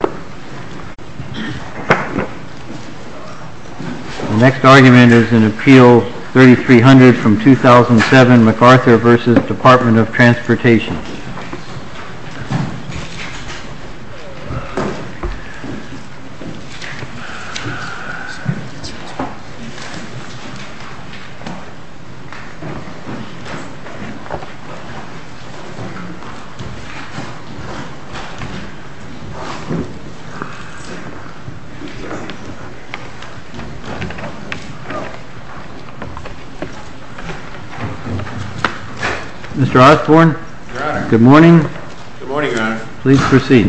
The next argument is in Appeal 3300 from 2007, MacArthur v. Department of Transportation. Mr. Osborne, good morning. Good morning, Your Honor. Please proceed.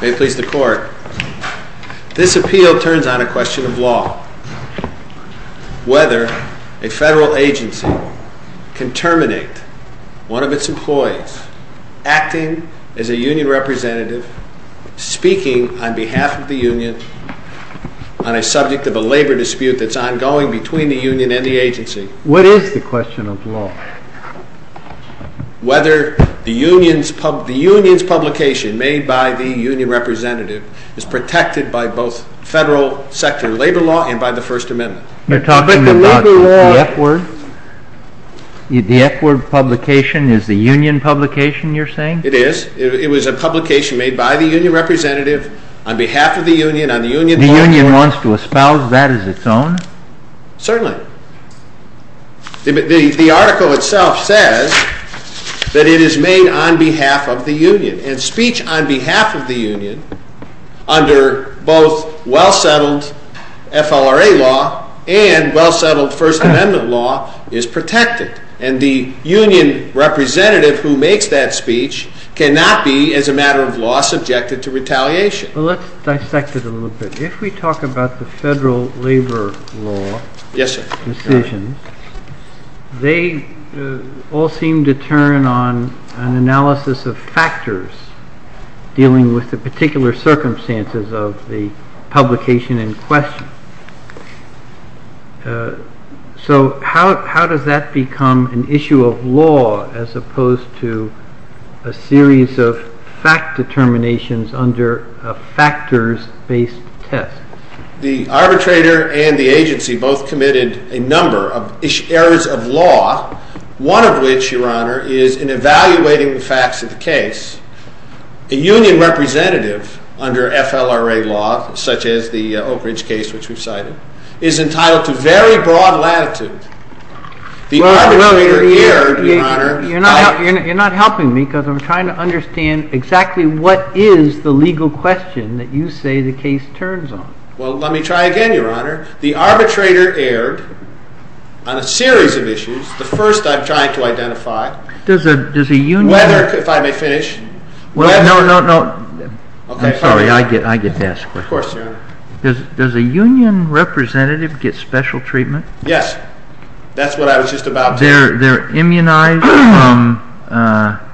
May it please the Court, this appeal turns on a question of law. Whether a federal agency can terminate one of its employees acting as a union representative speaking on behalf of the union on a subject of a labor dispute that's ongoing between the union and the agency. What is the question of law? Whether the union's publication made by the union representative is protected by both federal sector labor law and by the First Amendment. You're talking about the F-Word? The F-Word publication is the union publication, you're saying? It is. It was a publication made by the union representative on behalf of the union. The union wants to espouse that as its own? Certainly. The article itself says that it is made on behalf of the union. And speech on behalf of the union under both well-settled FLRA law and well-settled First Amendment law is protected. And the union representative who makes that speech cannot be, as a matter of law, subjected to retaliation. Let's dissect it a little bit. If we talk about the federal labor law decisions, they all seem to turn on an analysis of factors dealing with the particular circumstances of the publication in question. So how does that become an issue of law as opposed to a series of fact determinations under a factors-based test? The arbitrator and the agency both committed a number of errors of law, one of which, Your Honor, is in evaluating the facts of the case. A union representative under FLRA law, such as the Oak Ridge case which we've cited, is entitled to very broad latitude. The arbitrator erred, Your Honor. You're not helping me because I'm trying to understand exactly what is the legal question that you say the case turns on. Well, let me try again, Your Honor. The arbitrator erred on a series of issues. The first I'm trying to identify— Does a union— Whether, if I may finish— No, no, no. I'm sorry. I get to ask questions. Of course, Your Honor. Does a union representative get special treatment? Yes. That's what I was just about to say. They're immunized from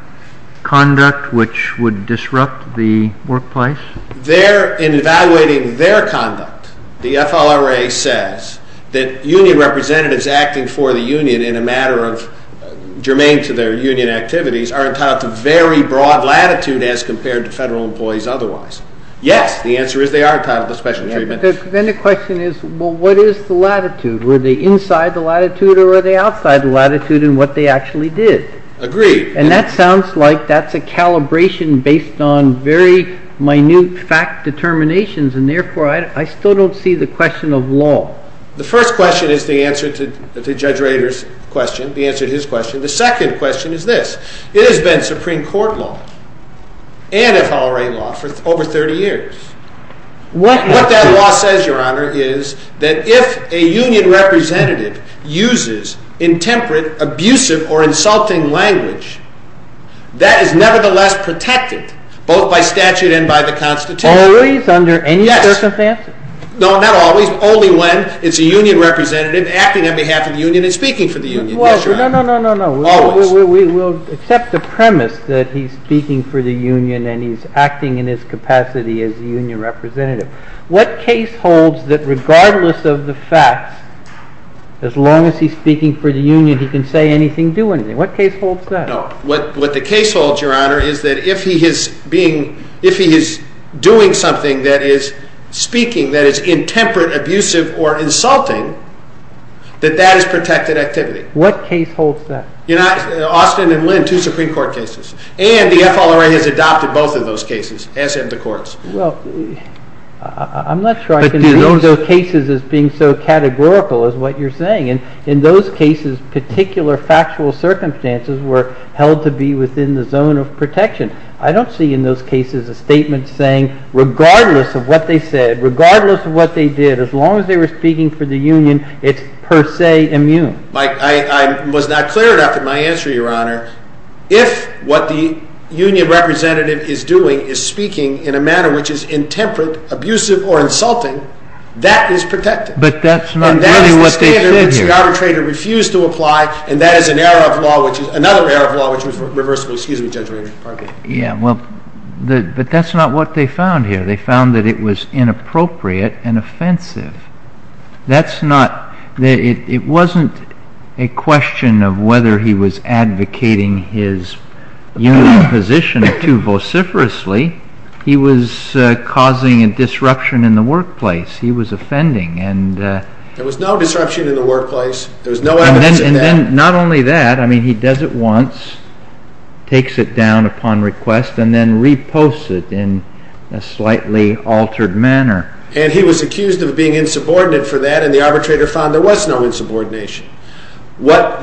conduct which would disrupt the workplace? In evaluating their conduct, the FLRA says that union representatives acting for the union in a matter of germane to their union activities are entitled to very broad latitude as compared to federal employees otherwise. Yes, the answer is they are entitled to special treatment. Then the question is, well, what is the latitude? Were they inside the latitude or were they outside the latitude in what they actually did? Agreed. And that sounds like that's a calibration based on very minute fact determinations, and therefore I still don't see the question of law. The first question is the answer to Judge Rader's question, the answer to his question. The second question is this. It has been Supreme Court law and FLRA law for over 30 years. What that law says, Your Honor, is that if a union representative uses intemperate, abusive, or insulting language, that is nevertheless protected both by statute and by the Constitution. Always? Under any circumstances? Yes. No, not always. Only when it's a union representative acting on behalf of the union and speaking for the union. What case holds that regardless of the facts, as long as he's speaking for the union, he can say anything, do anything? What case holds that? No. What the case holds, Your Honor, is that if he is doing something that is speaking that is intemperate, abusive, or insulting, that that is protected activity. What case holds that? Austin and Lynn, two Supreme Court cases. And the FLRA has adopted both of those cases, as have the courts. Well, I'm not sure I can view those cases as being so categorical as what you're saying. In those cases, particular factual circumstances were held to be within the zone of protection. I don't see in those cases a statement saying, regardless of what they said, regardless of what they did, as long as they were speaking for the union, it's per se immune. I was not clear enough in my answer, Your Honor. If what the union representative is doing is speaking in a manner which is intemperate, abusive, or insulting, that is protected. But that's not really what they did here. And that is the standard which the arbitrator refused to apply, and that is another error of law which was reversible. Excuse me, Judge Reardon. But that's not what they found here. They found that it was inappropriate and offensive. It wasn't a question of whether he was advocating his union position or two vociferously. He was causing a disruption in the workplace. He was offending. There was no disruption in the workplace. There was no evidence of that. And not only that, I mean, he does it once, takes it down upon request, and then reposts it in a slightly altered manner. And he was accused of being insubordinate for that, and the arbitrator found there was no insubordination. What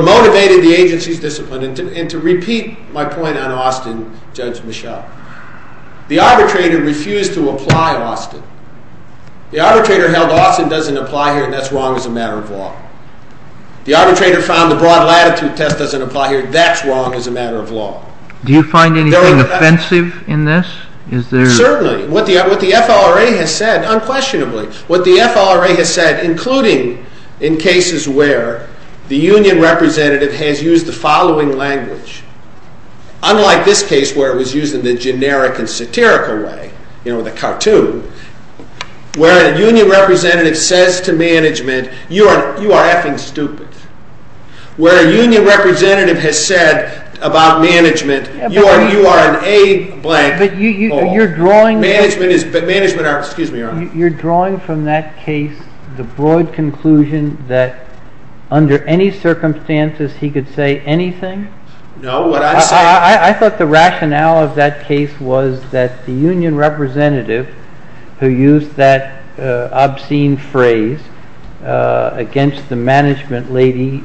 motivated the agency's discipline, and to repeat my point on Austin, Judge Michel, the arbitrator refused to apply Austin. The arbitrator held Austin doesn't apply here, and that's wrong as a matter of law. The arbitrator found the broad latitude test doesn't apply here, and that's wrong as a matter of law. Do you find anything offensive in this? Certainly. What the FLRA has said, unquestionably. What the FLRA has said, including in cases where the union representative has used the following language, unlike this case where it was used in the generic and satirical way, you know, the cartoon, where a union representative says to management, you are effing stupid. Where a union representative has said about management, you are an A blank hole. You're drawing from that case the broad conclusion that under any circumstances he could say anything? No, what I'm saying… I thought the rationale of that case was that the union representative, who used that obscene phrase against the management lady,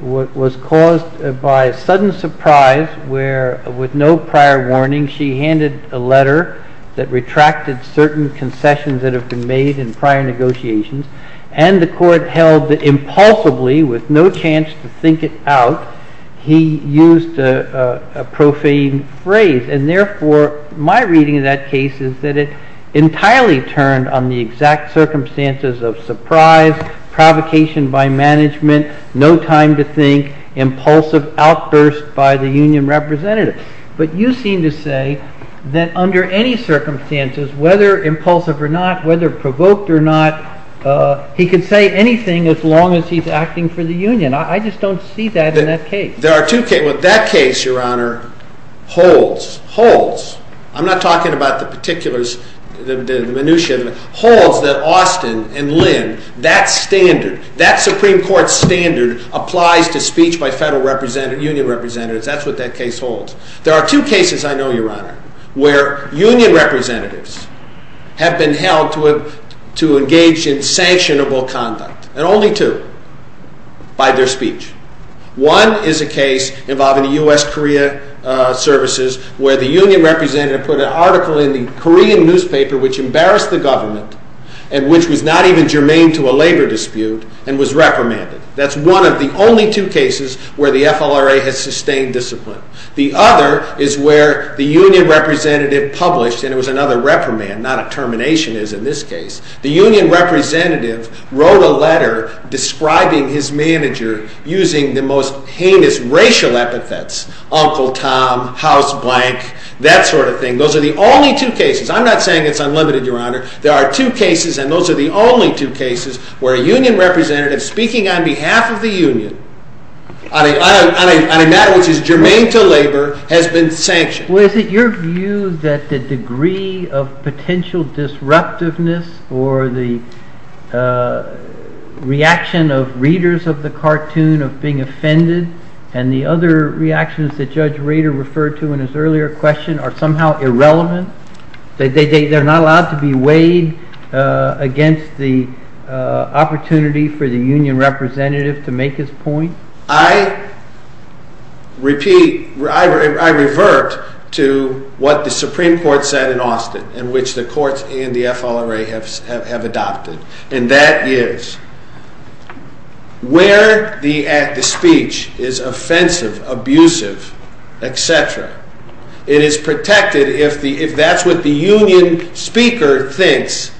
was caused by a sudden surprise where, with no prior warning, she handed a letter that retracted certain concessions that have been made in prior negotiations, and the court held that impulsively, with no chance to think it out, he used a profane phrase. And therefore, my reading of that case is that it entirely turned on the exact circumstances of surprise, provocation by management, no time to think, impulsive outburst by the union representative. But you seem to say that under any circumstances, whether impulsive or not, whether provoked or not, he could say anything as long as he's acting for the union. I just don't see that in that case. There are two cases. Well, that case, Your Honor, holds. Holds. I'm not talking about the particulars, the minutiae. Holds that Austin and Lynn, that standard, that Supreme Court standard, applies to speech by federal representatives, union representatives. That's what that case holds. There are two cases I know, Your Honor, where union representatives have been held to engage in sanctionable conduct, and only two by their speech. One is a case involving the U.S.-Korea services where the union representative put an article in the Korean newspaper which embarrassed the government and which was not even germane to a labor dispute and was reprimanded. That's one of the only two cases where the FLRA has sustained discipline. The other is where the union representative published, and it was another reprimand, not a termination, as in this case. The union representative wrote a letter describing his manager using the most heinous racial epithets, Uncle Tom, House Blank, that sort of thing. Those are the only two cases. I'm not saying it's unlimited, Your Honor. There are two cases, and those are the only two cases, where a union representative speaking on behalf of the union on a matter which is germane to labor has been sanctioned. Well, is it your view that the degree of potential disruptiveness or the reaction of readers of the cartoon of being offended and the other reactions that Judge Rader referred to in his earlier question are somehow irrelevant? They're not allowed to be weighed against the opportunity for the union representative to make his point? I repeat, I revert to what the Supreme Court said in Austin, in which the courts and the FLRA have adopted, and that is where the speech is offensive, abusive, etc., it is protected if that's what the union speaker thinks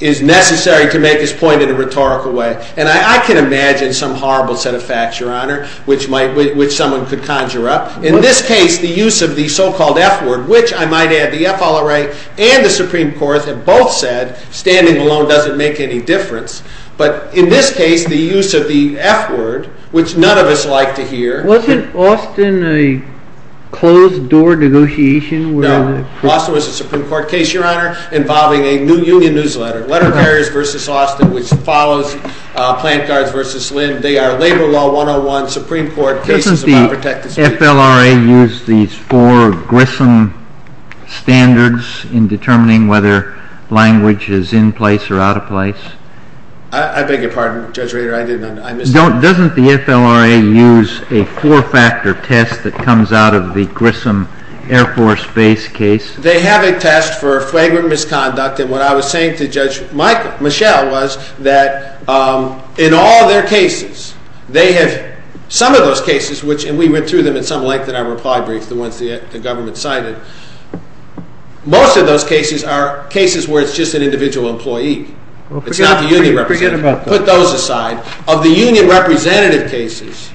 is necessary to make his point in a rhetorical way. And I can imagine some horrible set of facts, Your Honor, which someone could conjure up. In this case, the use of the so-called F word, which I might add the FLRA and the Supreme Court have both said, standing alone doesn't make any difference. But in this case, the use of the F word, which none of us like to hear. Wasn't Austin a closed-door negotiation? No. Austin was a Supreme Court case, Your Honor, involving a new union newsletter, Letter Carriers v. Austin, which follows Plant Guards v. Lynn. Doesn't the FLRA use these four Grissom standards in determining whether language is in place or out of place? I beg your pardon, Judge Rader, I didn't understand. Doesn't the FLRA use a four-factor test that comes out of the Grissom Air Force Base case? They have a test for flagrant misconduct. And what I was saying to Judge Michel was that in all their cases, they have some of those cases, and we went through them in some length in our reply briefs, the ones the government cited. Most of those cases are cases where it's just an individual employee. It's not the union representative. Put those aside. Of the union representative cases,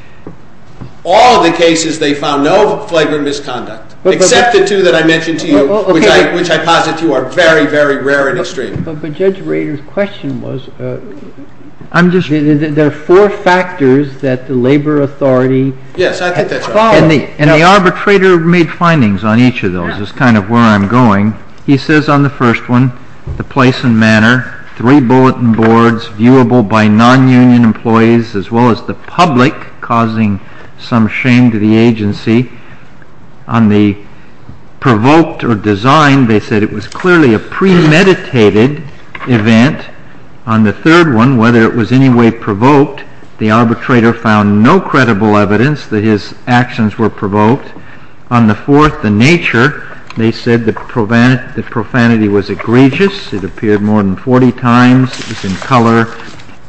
all the cases they found no flagrant misconduct, except the two that I mentioned to you. Which I posit to you are very, very rare and extreme. But Judge Rader's question was, there are four factors that the labor authority followed. Yes, I think that's right. And the arbitrator made findings on each of those, is kind of where I'm going. He says on the first one, the place and manner, three bulletin boards, viewable by non-union employees, as well as the public, causing some shame to the agency. On the provoked or designed, they said it was clearly a premeditated event. On the third one, whether it was anyway provoked, the arbitrator found no credible evidence that his actions were provoked. On the fourth, the nature, they said the profanity was egregious. It appeared more than 40 times. It was in color,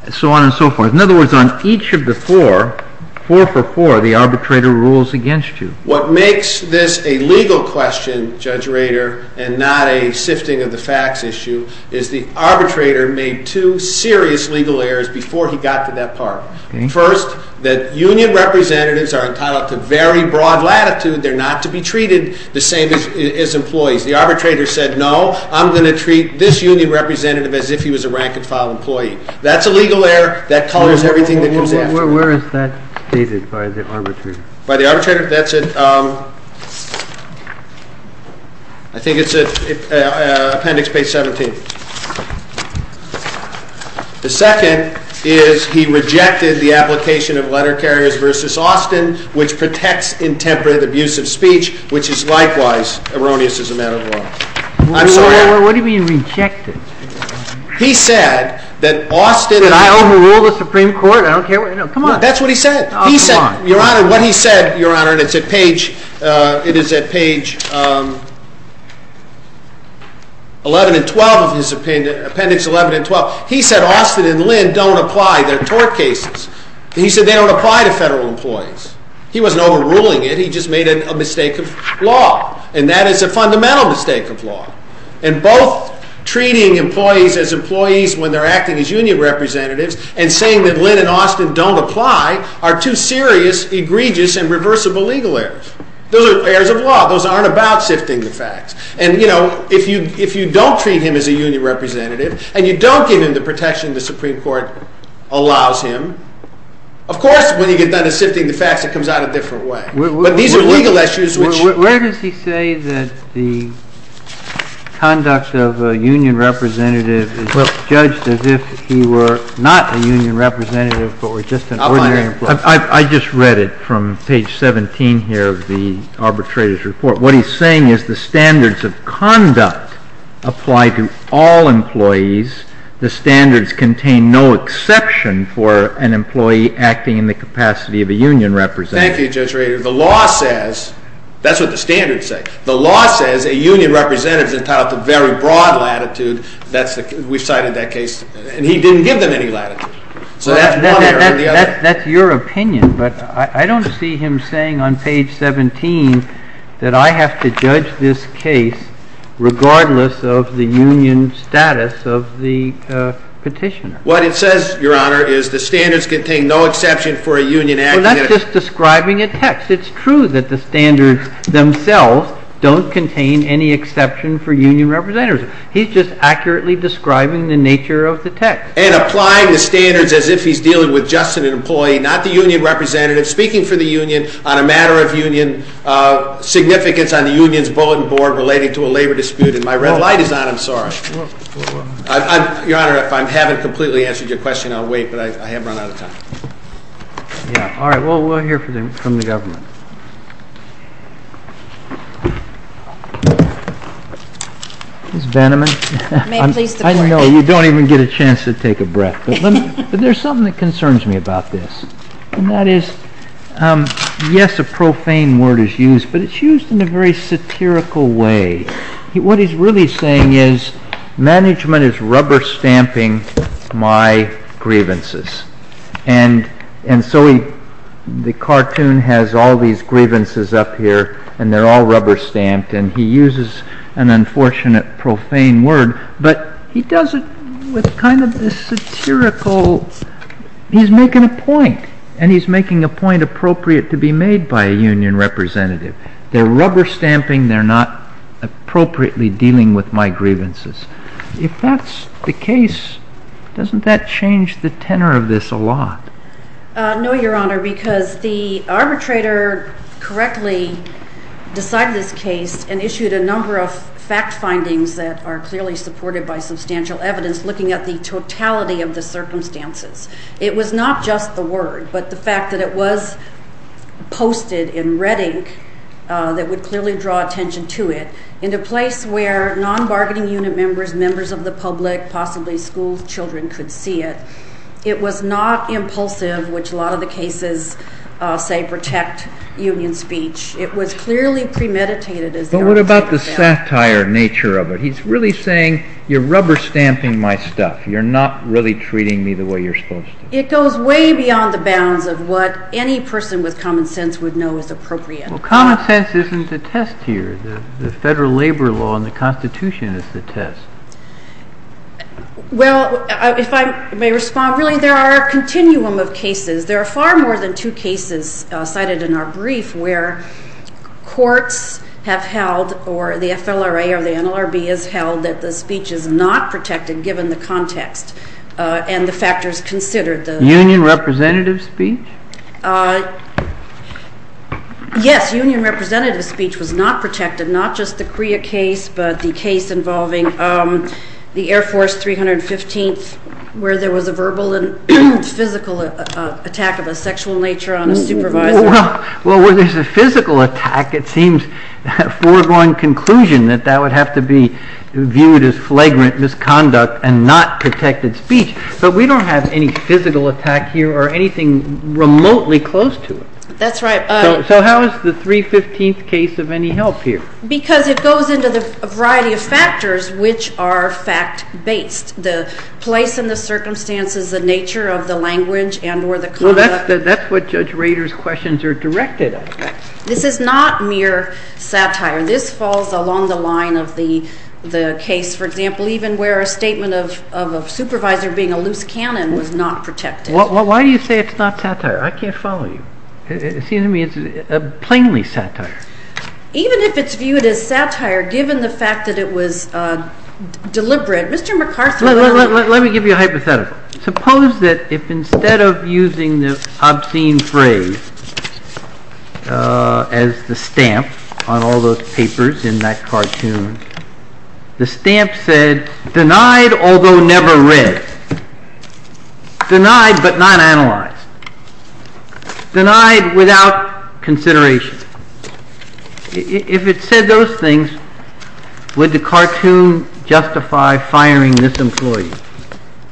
and so on and so forth. In other words, on each of the four, four for four, the arbitrator rules against you. What makes this a legal question, Judge Rader, and not a sifting of the facts issue, is the arbitrator made two serious legal errors before he got to that part. First, that union representatives are entitled to very broad latitude. They're not to be treated the same as employees. The arbitrator said, no, I'm going to treat this union representative as if he was a rank-and-file employee. That's a legal error. That colors everything that comes in. Where is that stated by the arbitrator? By the arbitrator? That's at, I think it's at appendix page 17. The second is he rejected the application of letter carriers versus Austin, which protects intemperate abusive speech, which is likewise erroneous as a matter of law. I'm sorry? What do you mean rejected? He said that Austin Did I overrule the Supreme Court? I don't care. Come on. That's what he said. Come on. Your Honor, what he said, Your Honor, and it's at page, it is at page 11 and 12 of his appendix, appendix 11 and 12. He said Austin and Lynn don't apply. They're tort cases. He said they don't apply to federal employees. He wasn't overruling it. He just made a mistake of law. And that is a fundamental mistake of law. And both treating employees as employees when they're acting as union representatives and saying that Lynn and Austin don't apply are two serious, egregious, and reversible legal errors. Those are errors of law. Those aren't about sifting the facts. And, you know, if you don't treat him as a union representative and you don't give him the protection the Supreme Court allows him, of course when you get done with sifting the facts it comes out a different way. But these are legal issues which Where does he say that the conduct of a union representative is judged as if he were not a union representative but were just an ordinary employee? I just read it from page 17 here of the arbitrator's report. What he's saying is the standards of conduct apply to all employees. The standards contain no exception for an employee acting in the capacity of a union representative. Thank you, Judge Rader. The law says that's what the standards say. The law says a union representative is entitled to very broad latitude. We've cited that case. And he didn't give them any latitude. So that's one error in the other. That's your opinion. But I don't see him saying on page 17 that I have to judge this case regardless of the union status of the petitioner. What it says, Your Honor, is the standards contain no exception for a union acting in a capacity of a union representative. We're not just describing a text. It's true that the standards themselves don't contain any exception for union representatives. He's just accurately describing the nature of the text. And applying the standards as if he's dealing with just an employee, not the union representative, speaking for the union on a matter of union significance on the union's bulletin board relating to a labor dispute. And my red light is on. I'm sorry. Your Honor, if I haven't completely answered your question, I'll wait, but I have run out of time. Yeah. All right. Well, we'll hear from the government. Ms. Bannerman. May it please the Court. I know you don't even get a chance to take a breath, but there's something that concerns me about this. And that is, yes, a profane word is used, but it's used in a very satirical way. What he's really saying is, management is rubber stamping my grievances. And so the cartoon has all these grievances up here, and they're all rubber stamped. And he uses an unfortunate, profane word, but he does it with kind of this satirical—he's making a point. And he's making a point appropriate to be made by a union representative. They're rubber stamping. They're not appropriately dealing with my grievances. If that's the case, doesn't that change the tenor of this a lot? No, Your Honor, because the arbitrator correctly decided this case and issued a number of fact findings that are clearly supported by substantial evidence looking at the totality of the circumstances. It was not just the word, but the fact that it was posted in red ink that would clearly draw attention to it in a place where non-bargaining unit members, members of the public, possibly school children could see it. It was not impulsive, which a lot of the cases, say, protect union speech. It was clearly premeditated. But what about the satire nature of it? He's really saying, you're rubber stamping my stuff. You're not really treating me the way you're supposed to. It goes way beyond the bounds of what any person with common sense would know is appropriate. Well, common sense isn't the test here. The federal labor law and the Constitution is the test. Well, if I may respond, really there are a continuum of cases. There are far more than two cases cited in our brief where courts have held or the FLRA or the NLRB has held that the speech is not protected given the context and the factors considered. Union representative speech? Yes, union representative speech was not protected, not just the CREA case, but the case involving the Air Force 315th where there was a verbal and physical attack of a sexual nature on a supervisor. Well, where there's a physical attack, it seems a foregone conclusion that that would have to be viewed as flagrant misconduct and not protected speech. But we don't have any physical attack here or anything remotely close to it. That's right. So how is the 315th case of any help here? Because it goes into a variety of factors which are fact-based. The place and the circumstances, the nature of the language and or the conduct. That's what Judge Rader's questions are directed at. This is not mere satire. This falls along the line of the case, for example, even where a statement of a supervisor being a loose cannon was not protected. Well, why do you say it's not satire? I can't follow you. It seems to me it's plainly satire. Even if it's viewed as satire, given the fact that it was deliberate, Mr. McCarthy. Let me give you a hypothetical. Suppose that if instead of using the obscene phrase as the stamp on all those papers in that cartoon, the stamp said, Denied, although never read. Denied, but not analyzed. Denied without consideration. If it said those things, would the cartoon justify firing this employee?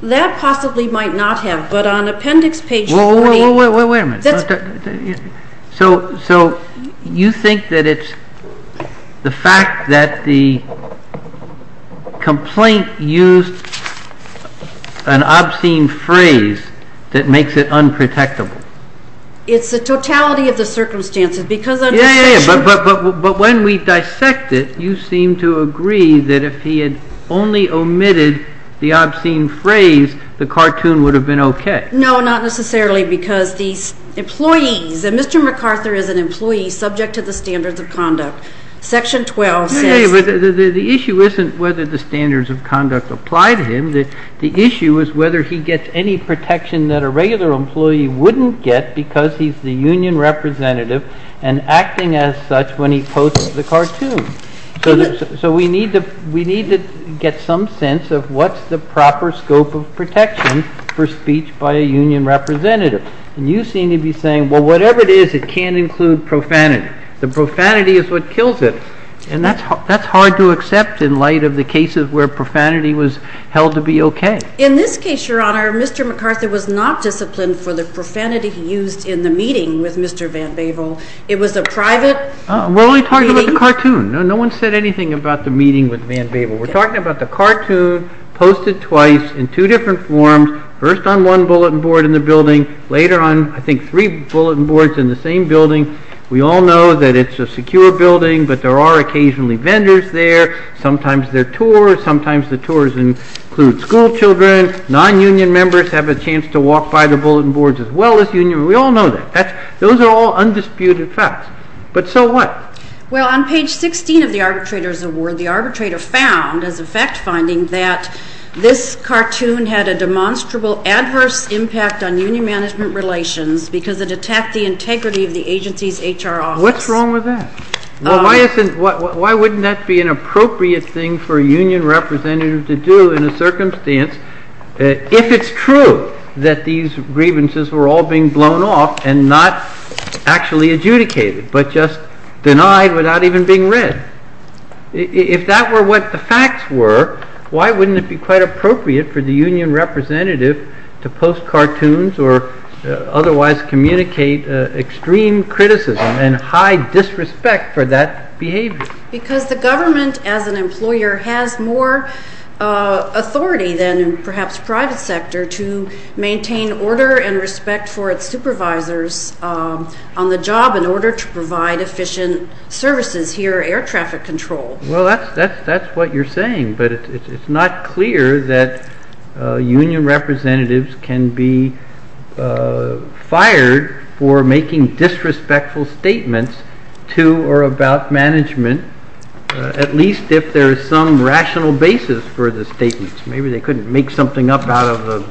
That possibly might not have. But on appendix page 14. Wait a minute. So you think that it's the fact that the complaint used an obscene phrase that makes it unprotectable. It's the totality of the circumstances. But when we dissect it, you seem to agree that if he had only omitted the obscene phrase, the cartoon would have been okay. No, not necessarily, because these employees, and Mr. McArthur is an employee subject to the standards of conduct. Section 12 says. The issue isn't whether the standards of conduct apply to him. The issue is whether he gets any protection that a regular employee wouldn't get because he's the union representative and acting as such when he posts the cartoon. So we need to get some sense of what's the proper scope of protection for speech by a union representative. And you seem to be saying, well, whatever it is, it can't include profanity. The profanity is what kills it. And that's hard to accept in light of the cases where profanity was held to be okay. In this case, Your Honor, Mr. McArthur was not disciplined for the profanity he used in the meeting with Mr. Van Bavel. It was a private meeting. We're only talking about the cartoon. No one said anything about the meeting with Van Bavel. We're talking about the cartoon posted twice in two different forms, first on one bulletin board in the building, later on, I think, three bulletin boards in the same building. We all know that it's a secure building, but there are occasionally vendors there. Sometimes they're tours. Sometimes the tours include schoolchildren. Non-union members have a chance to walk by the bulletin boards as well as union members. We all know that. Those are all undisputed facts. But so what? Well, on page 16 of the arbitrator's award, the arbitrator found as a fact finding that this cartoon had a demonstrable adverse impact on union management relations because it attacked the integrity of the agency's HR office. What's wrong with that? Why wouldn't that be an appropriate thing for a union representative to do in a circumstance if it's true that these grievances were all being blown off and not actually adjudicated but just denied without even being read? If that were what the facts were, why wouldn't it be quite appropriate for the union representative to post cartoons or otherwise communicate extreme criticism and high disrespect for that behavior? Because the government as an employer has more authority than perhaps private sector to maintain order and respect for its supervisors on the job in order to provide efficient services here, air traffic control. Well, that's what you're saying. But it's not clear that union representatives can be fired for making disrespectful statements to or about management, at least if there is some rational basis for the statements. Maybe they couldn't make something up out of the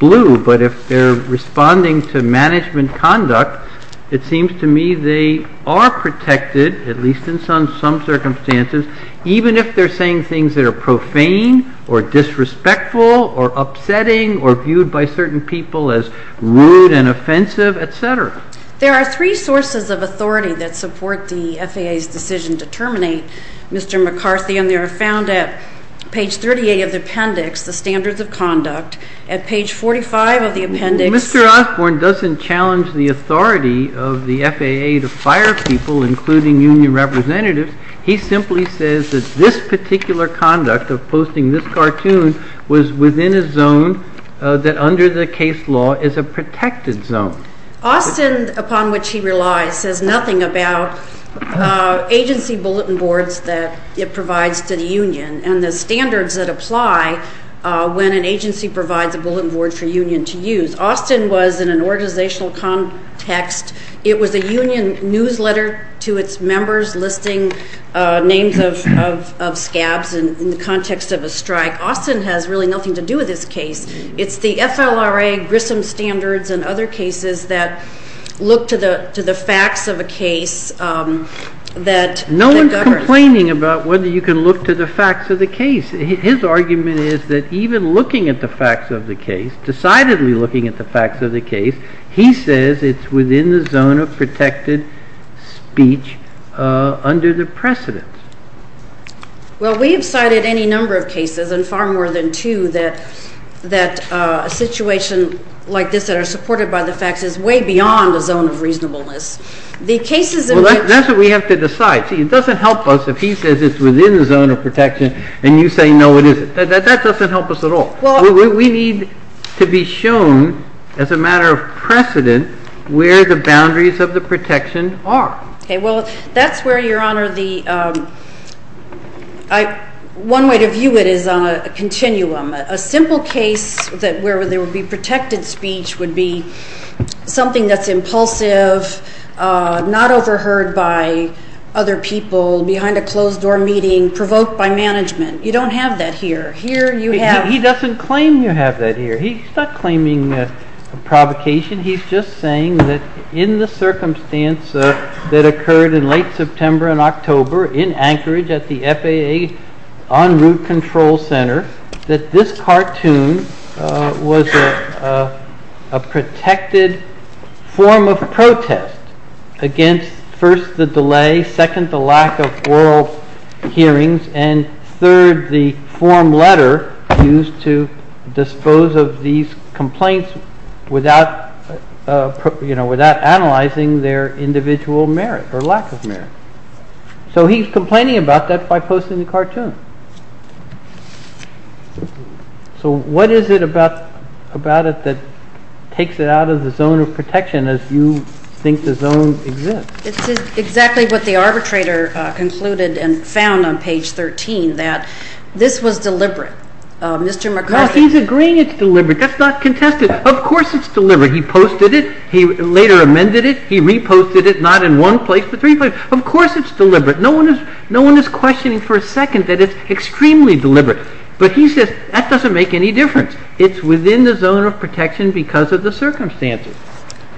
blue. But if they're responding to management conduct, it seems to me they are protected, at least in some circumstances, even if they're saying things that are profane or disrespectful or upsetting or viewed by certain people as rude and offensive, etc. There are three sources of authority that support the FAA's decision to terminate Mr. McCarthy, and they are found at page 38 of the appendix, the standards of conduct. At page 45 of the appendix… Mr. Osborne doesn't challenge the authority of the FAA to fire people, including union representatives. He simply says that this particular conduct of posting this cartoon was within a zone that under the case law is a protected zone. Austin, upon which he relies, says nothing about agency bulletin boards that it provides to the union and the standards that apply when an agency provides a bulletin board for a union to use. Austin was in an organizational context. It was a union newsletter to its members listing names of scabs in the context of a strike. Austin has really nothing to do with this case. It's the FLRA, Grissom Standards, and other cases that look to the facts of a case that governs. No one's complaining about whether you can look to the facts of the case. His argument is that even looking at the facts of the case, decidedly looking at the facts of the case, he says it's within the zone of protected speech under the precedents. Well, we have cited any number of cases, and far more than two, that a situation like this that are supported by the facts is way beyond a zone of reasonableness. The cases in which… Well, that's what we have to decide. See, it doesn't help us if he says it's within the zone of protection and you say no, it isn't. That doesn't help us at all. We need to be shown, as a matter of precedent, where the boundaries of the protection are. Well, that's where, Your Honor, one way to view it is on a continuum. A simple case where there would be protected speech would be something that's impulsive, not overheard by other people, behind a closed-door meeting, provoked by management. You don't have that here. He doesn't claim you have that here. He's not claiming a provocation. He's just saying that in the circumstance that occurred in late September and October in Anchorage at the FAA En Route Control Center, that this cartoon was a protected form of protest against, first, the delay, second, the lack of oral hearings, and third, the form letter used to dispose of these complaints without analyzing their individual merit or lack of merit. So he's complaining about that by posting the cartoon. So what is it about it that takes it out of the zone of protection as you think the zone exists? It's exactly what the arbitrator concluded and found on page 13, that this was deliberate. Mr. McCarthy. He's agreeing it's deliberate. That's not contested. Of course it's deliberate. He posted it. He later amended it. He reposted it, not in one place but three places. Of course it's deliberate. No one is questioning for a second that it's extremely deliberate. But he says that doesn't make any difference. It's within the zone of protection because of the circumstances.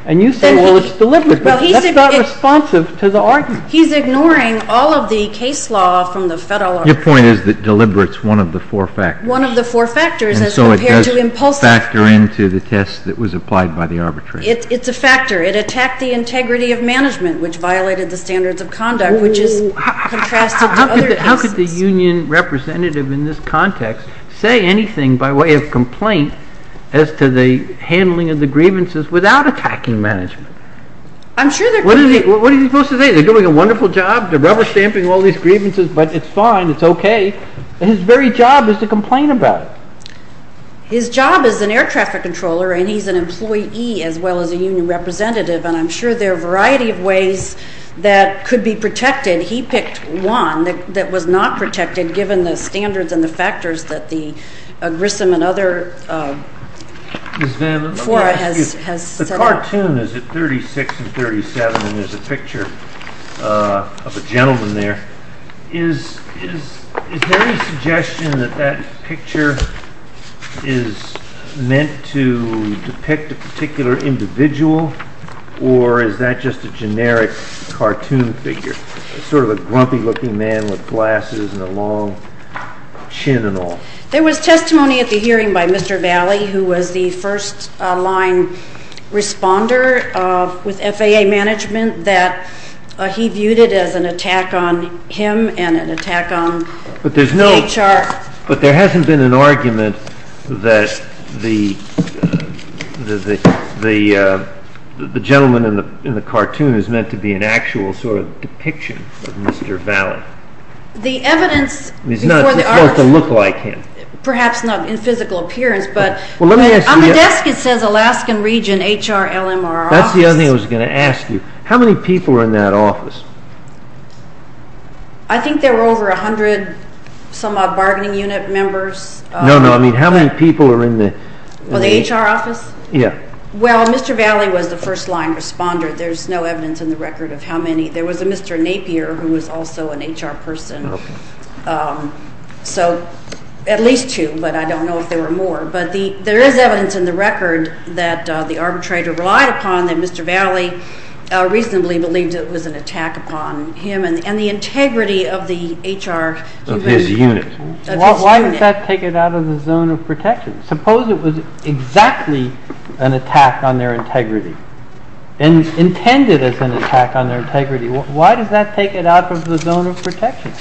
And you say, well, it's deliberate. But that's not responsive to the argument. He's ignoring all of the case law from the federal arbitration. Your point is that deliberate is one of the four factors. One of the four factors as compared to impulsive. And so it does factor into the test that was applied by the arbitrator. It's a factor. It attacked the integrity of management, which violated the standards of conduct, which is contrasted to other cases. What is he supposed to say? They're doing a wonderful job. They're rubber stamping all these grievances. But it's fine. It's okay. His very job is to complain about it. His job is an air traffic controller, and he's an employee as well as a union representative. And I'm sure there are a variety of ways that could be protected. He picked one that was not protected given the standards and the factors that the Grissom and other fora has said. The cartoon is at 36 and 37, and there's a picture of a gentleman there. Is there any suggestion that that picture is meant to depict a particular individual? Or is that just a generic cartoon figure, sort of a grumpy-looking man with glasses and a long chin and all? There was testimony at the hearing by Mr. Valle, who was the first-line responder with FAA management, that he viewed it as an attack on him and an attack on HR. But there hasn't been an argument that the gentleman in the cartoon is meant to be an actual sort of depiction of Mr. Valle. He's not supposed to look like him. Perhaps not in physical appearance, but on the desk it says Alaskan Region HR LMR Office. That's the other thing I was going to ask you. How many people were in that office? I think there were over a hundred-some-odd bargaining unit members. No, no. I mean, how many people were in the… The HR office? Yeah. Well, Mr. Valle was the first-line responder. There's no evidence in the record of how many. There was a Mr. Napier who was also an HR person, so at least two, but I don't know if there were more. But there is evidence in the record that the arbitrator relied upon that Mr. Valle reasonably believed it was an attack upon him and the integrity of the HR… Of his unit. Why does that take it out of the zone of protection? Suppose it was exactly an attack on their integrity and intended as an attack on their integrity. Why does that take it out of the zone of protection?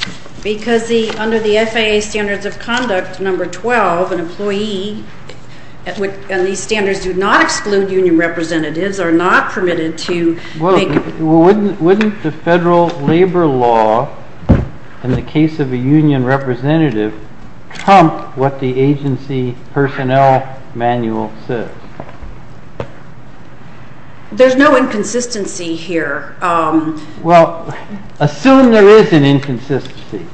Because under the FAA Standards of Conduct Number 12, an employee, and these standards do not exclude union representatives, are not permitted to make… There's no inconsistency here. Well, assume there is an inconsistency.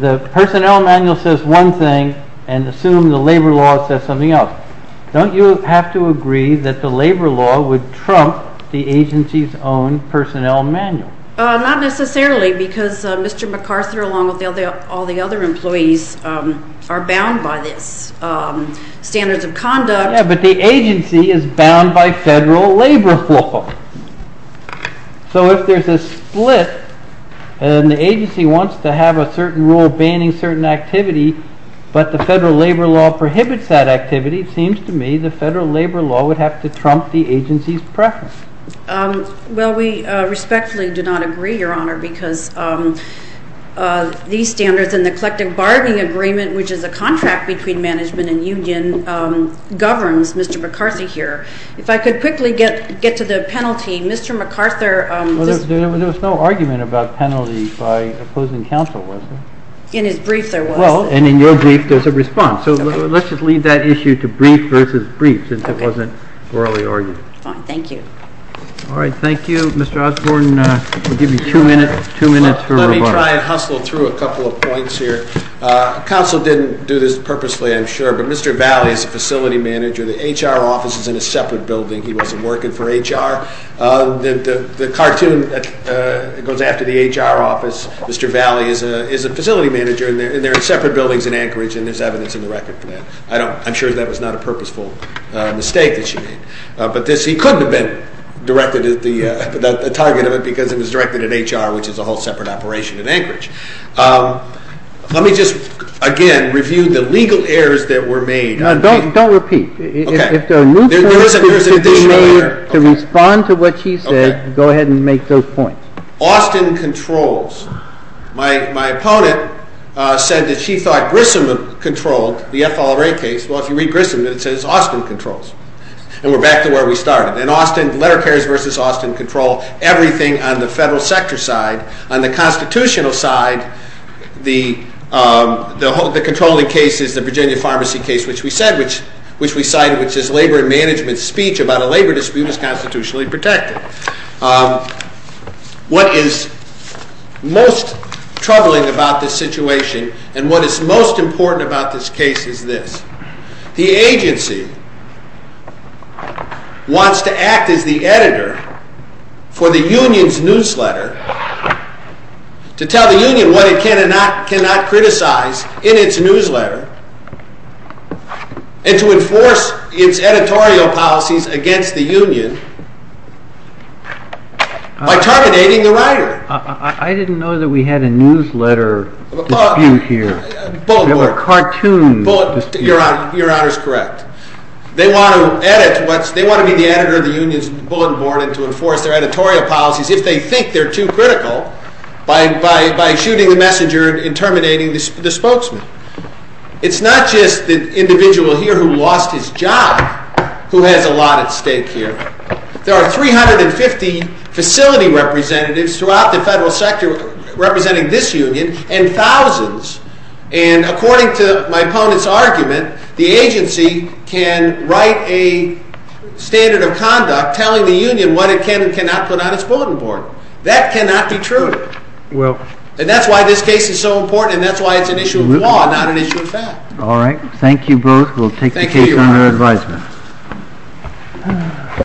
The personnel manual says one thing, and assume the labor law says something else. Don't you have to agree that the labor law would trump the agency's own personnel manual? Not necessarily, because Mr. MacArthur, along with all the other employees, are bound by this. Standards of conduct… Yeah, but the agency is bound by federal labor law. So if there's a split, and the agency wants to have a certain rule banning certain activity, but the federal labor law prohibits that activity, it seems to me the federal labor law would have to trump the agency's preference. Well, we respectfully do not agree, Your Honor, because these standards and the collective bargaining agreement, which is a contract between management and union, governs Mr. MacArthur here. If I could quickly get to the penalty, Mr. MacArthur… There was no argument about penalty by opposing counsel, was there? In his brief, there was. Well, and in your brief, there's a response. So let's just leave that issue to brief versus brief, since it wasn't orally argued. Fine, thank you. All right, thank you. Mr. Osborne, we'll give you two minutes for rebuttal. Let me try and hustle through a couple of points here. Counsel didn't do this purposely, I'm sure, but Mr. Valley is a facility manager. The HR office is in a separate building. He wasn't working for HR. The cartoon that goes after the HR office, Mr. Valley is a facility manager, and they're in separate buildings in Anchorage, and there's evidence in the record for that. I'm sure that was not a purposeful mistake that she made. But he couldn't have been directed at the target of it because it was directed at HR, which is a whole separate operation in Anchorage. Let me just, again, review the legal errors that were made. Now, don't repeat. Okay. If there are new points that could be made to respond to what she said, go ahead and make those points. Austin controls. My opponent said that she thought Grissom controlled the FLRA case. Well, if you read Grissom, it says Austin controls. And we're back to where we started. In Austin, letter pairs versus Austin control, everything on the federal sector side. On the constitutional side, the controlling case is the Virginia Pharmacy case, which we said, which we cited, which is labor and management speech about a labor dispute was constitutionally protected. What is most troubling about this situation and what is most important about this case is this. The agency wants to act as the editor for the union's newsletter to tell the union what it cannot criticize in its newsletter and to enforce its editorial policies against the union by terminating the writer. I didn't know that we had a newsletter dispute here. We have a cartoon dispute. Your Honor is correct. They want to be the editor of the union's bulletin board and to enforce their editorial policies if they think they're too critical by shooting the messenger and terminating the spokesman. It's not just the individual here who lost his job who has a lot at stake here. There are 350 facility representatives throughout the federal sector representing this union and thousands. According to my opponent's argument, the agency can write a standard of conduct telling the union what it can and cannot put on its bulletin board. That cannot be true. That's why this case is so important and that's why it's an issue of law, not an issue of fact. Thank you both. We'll take the case under advisement.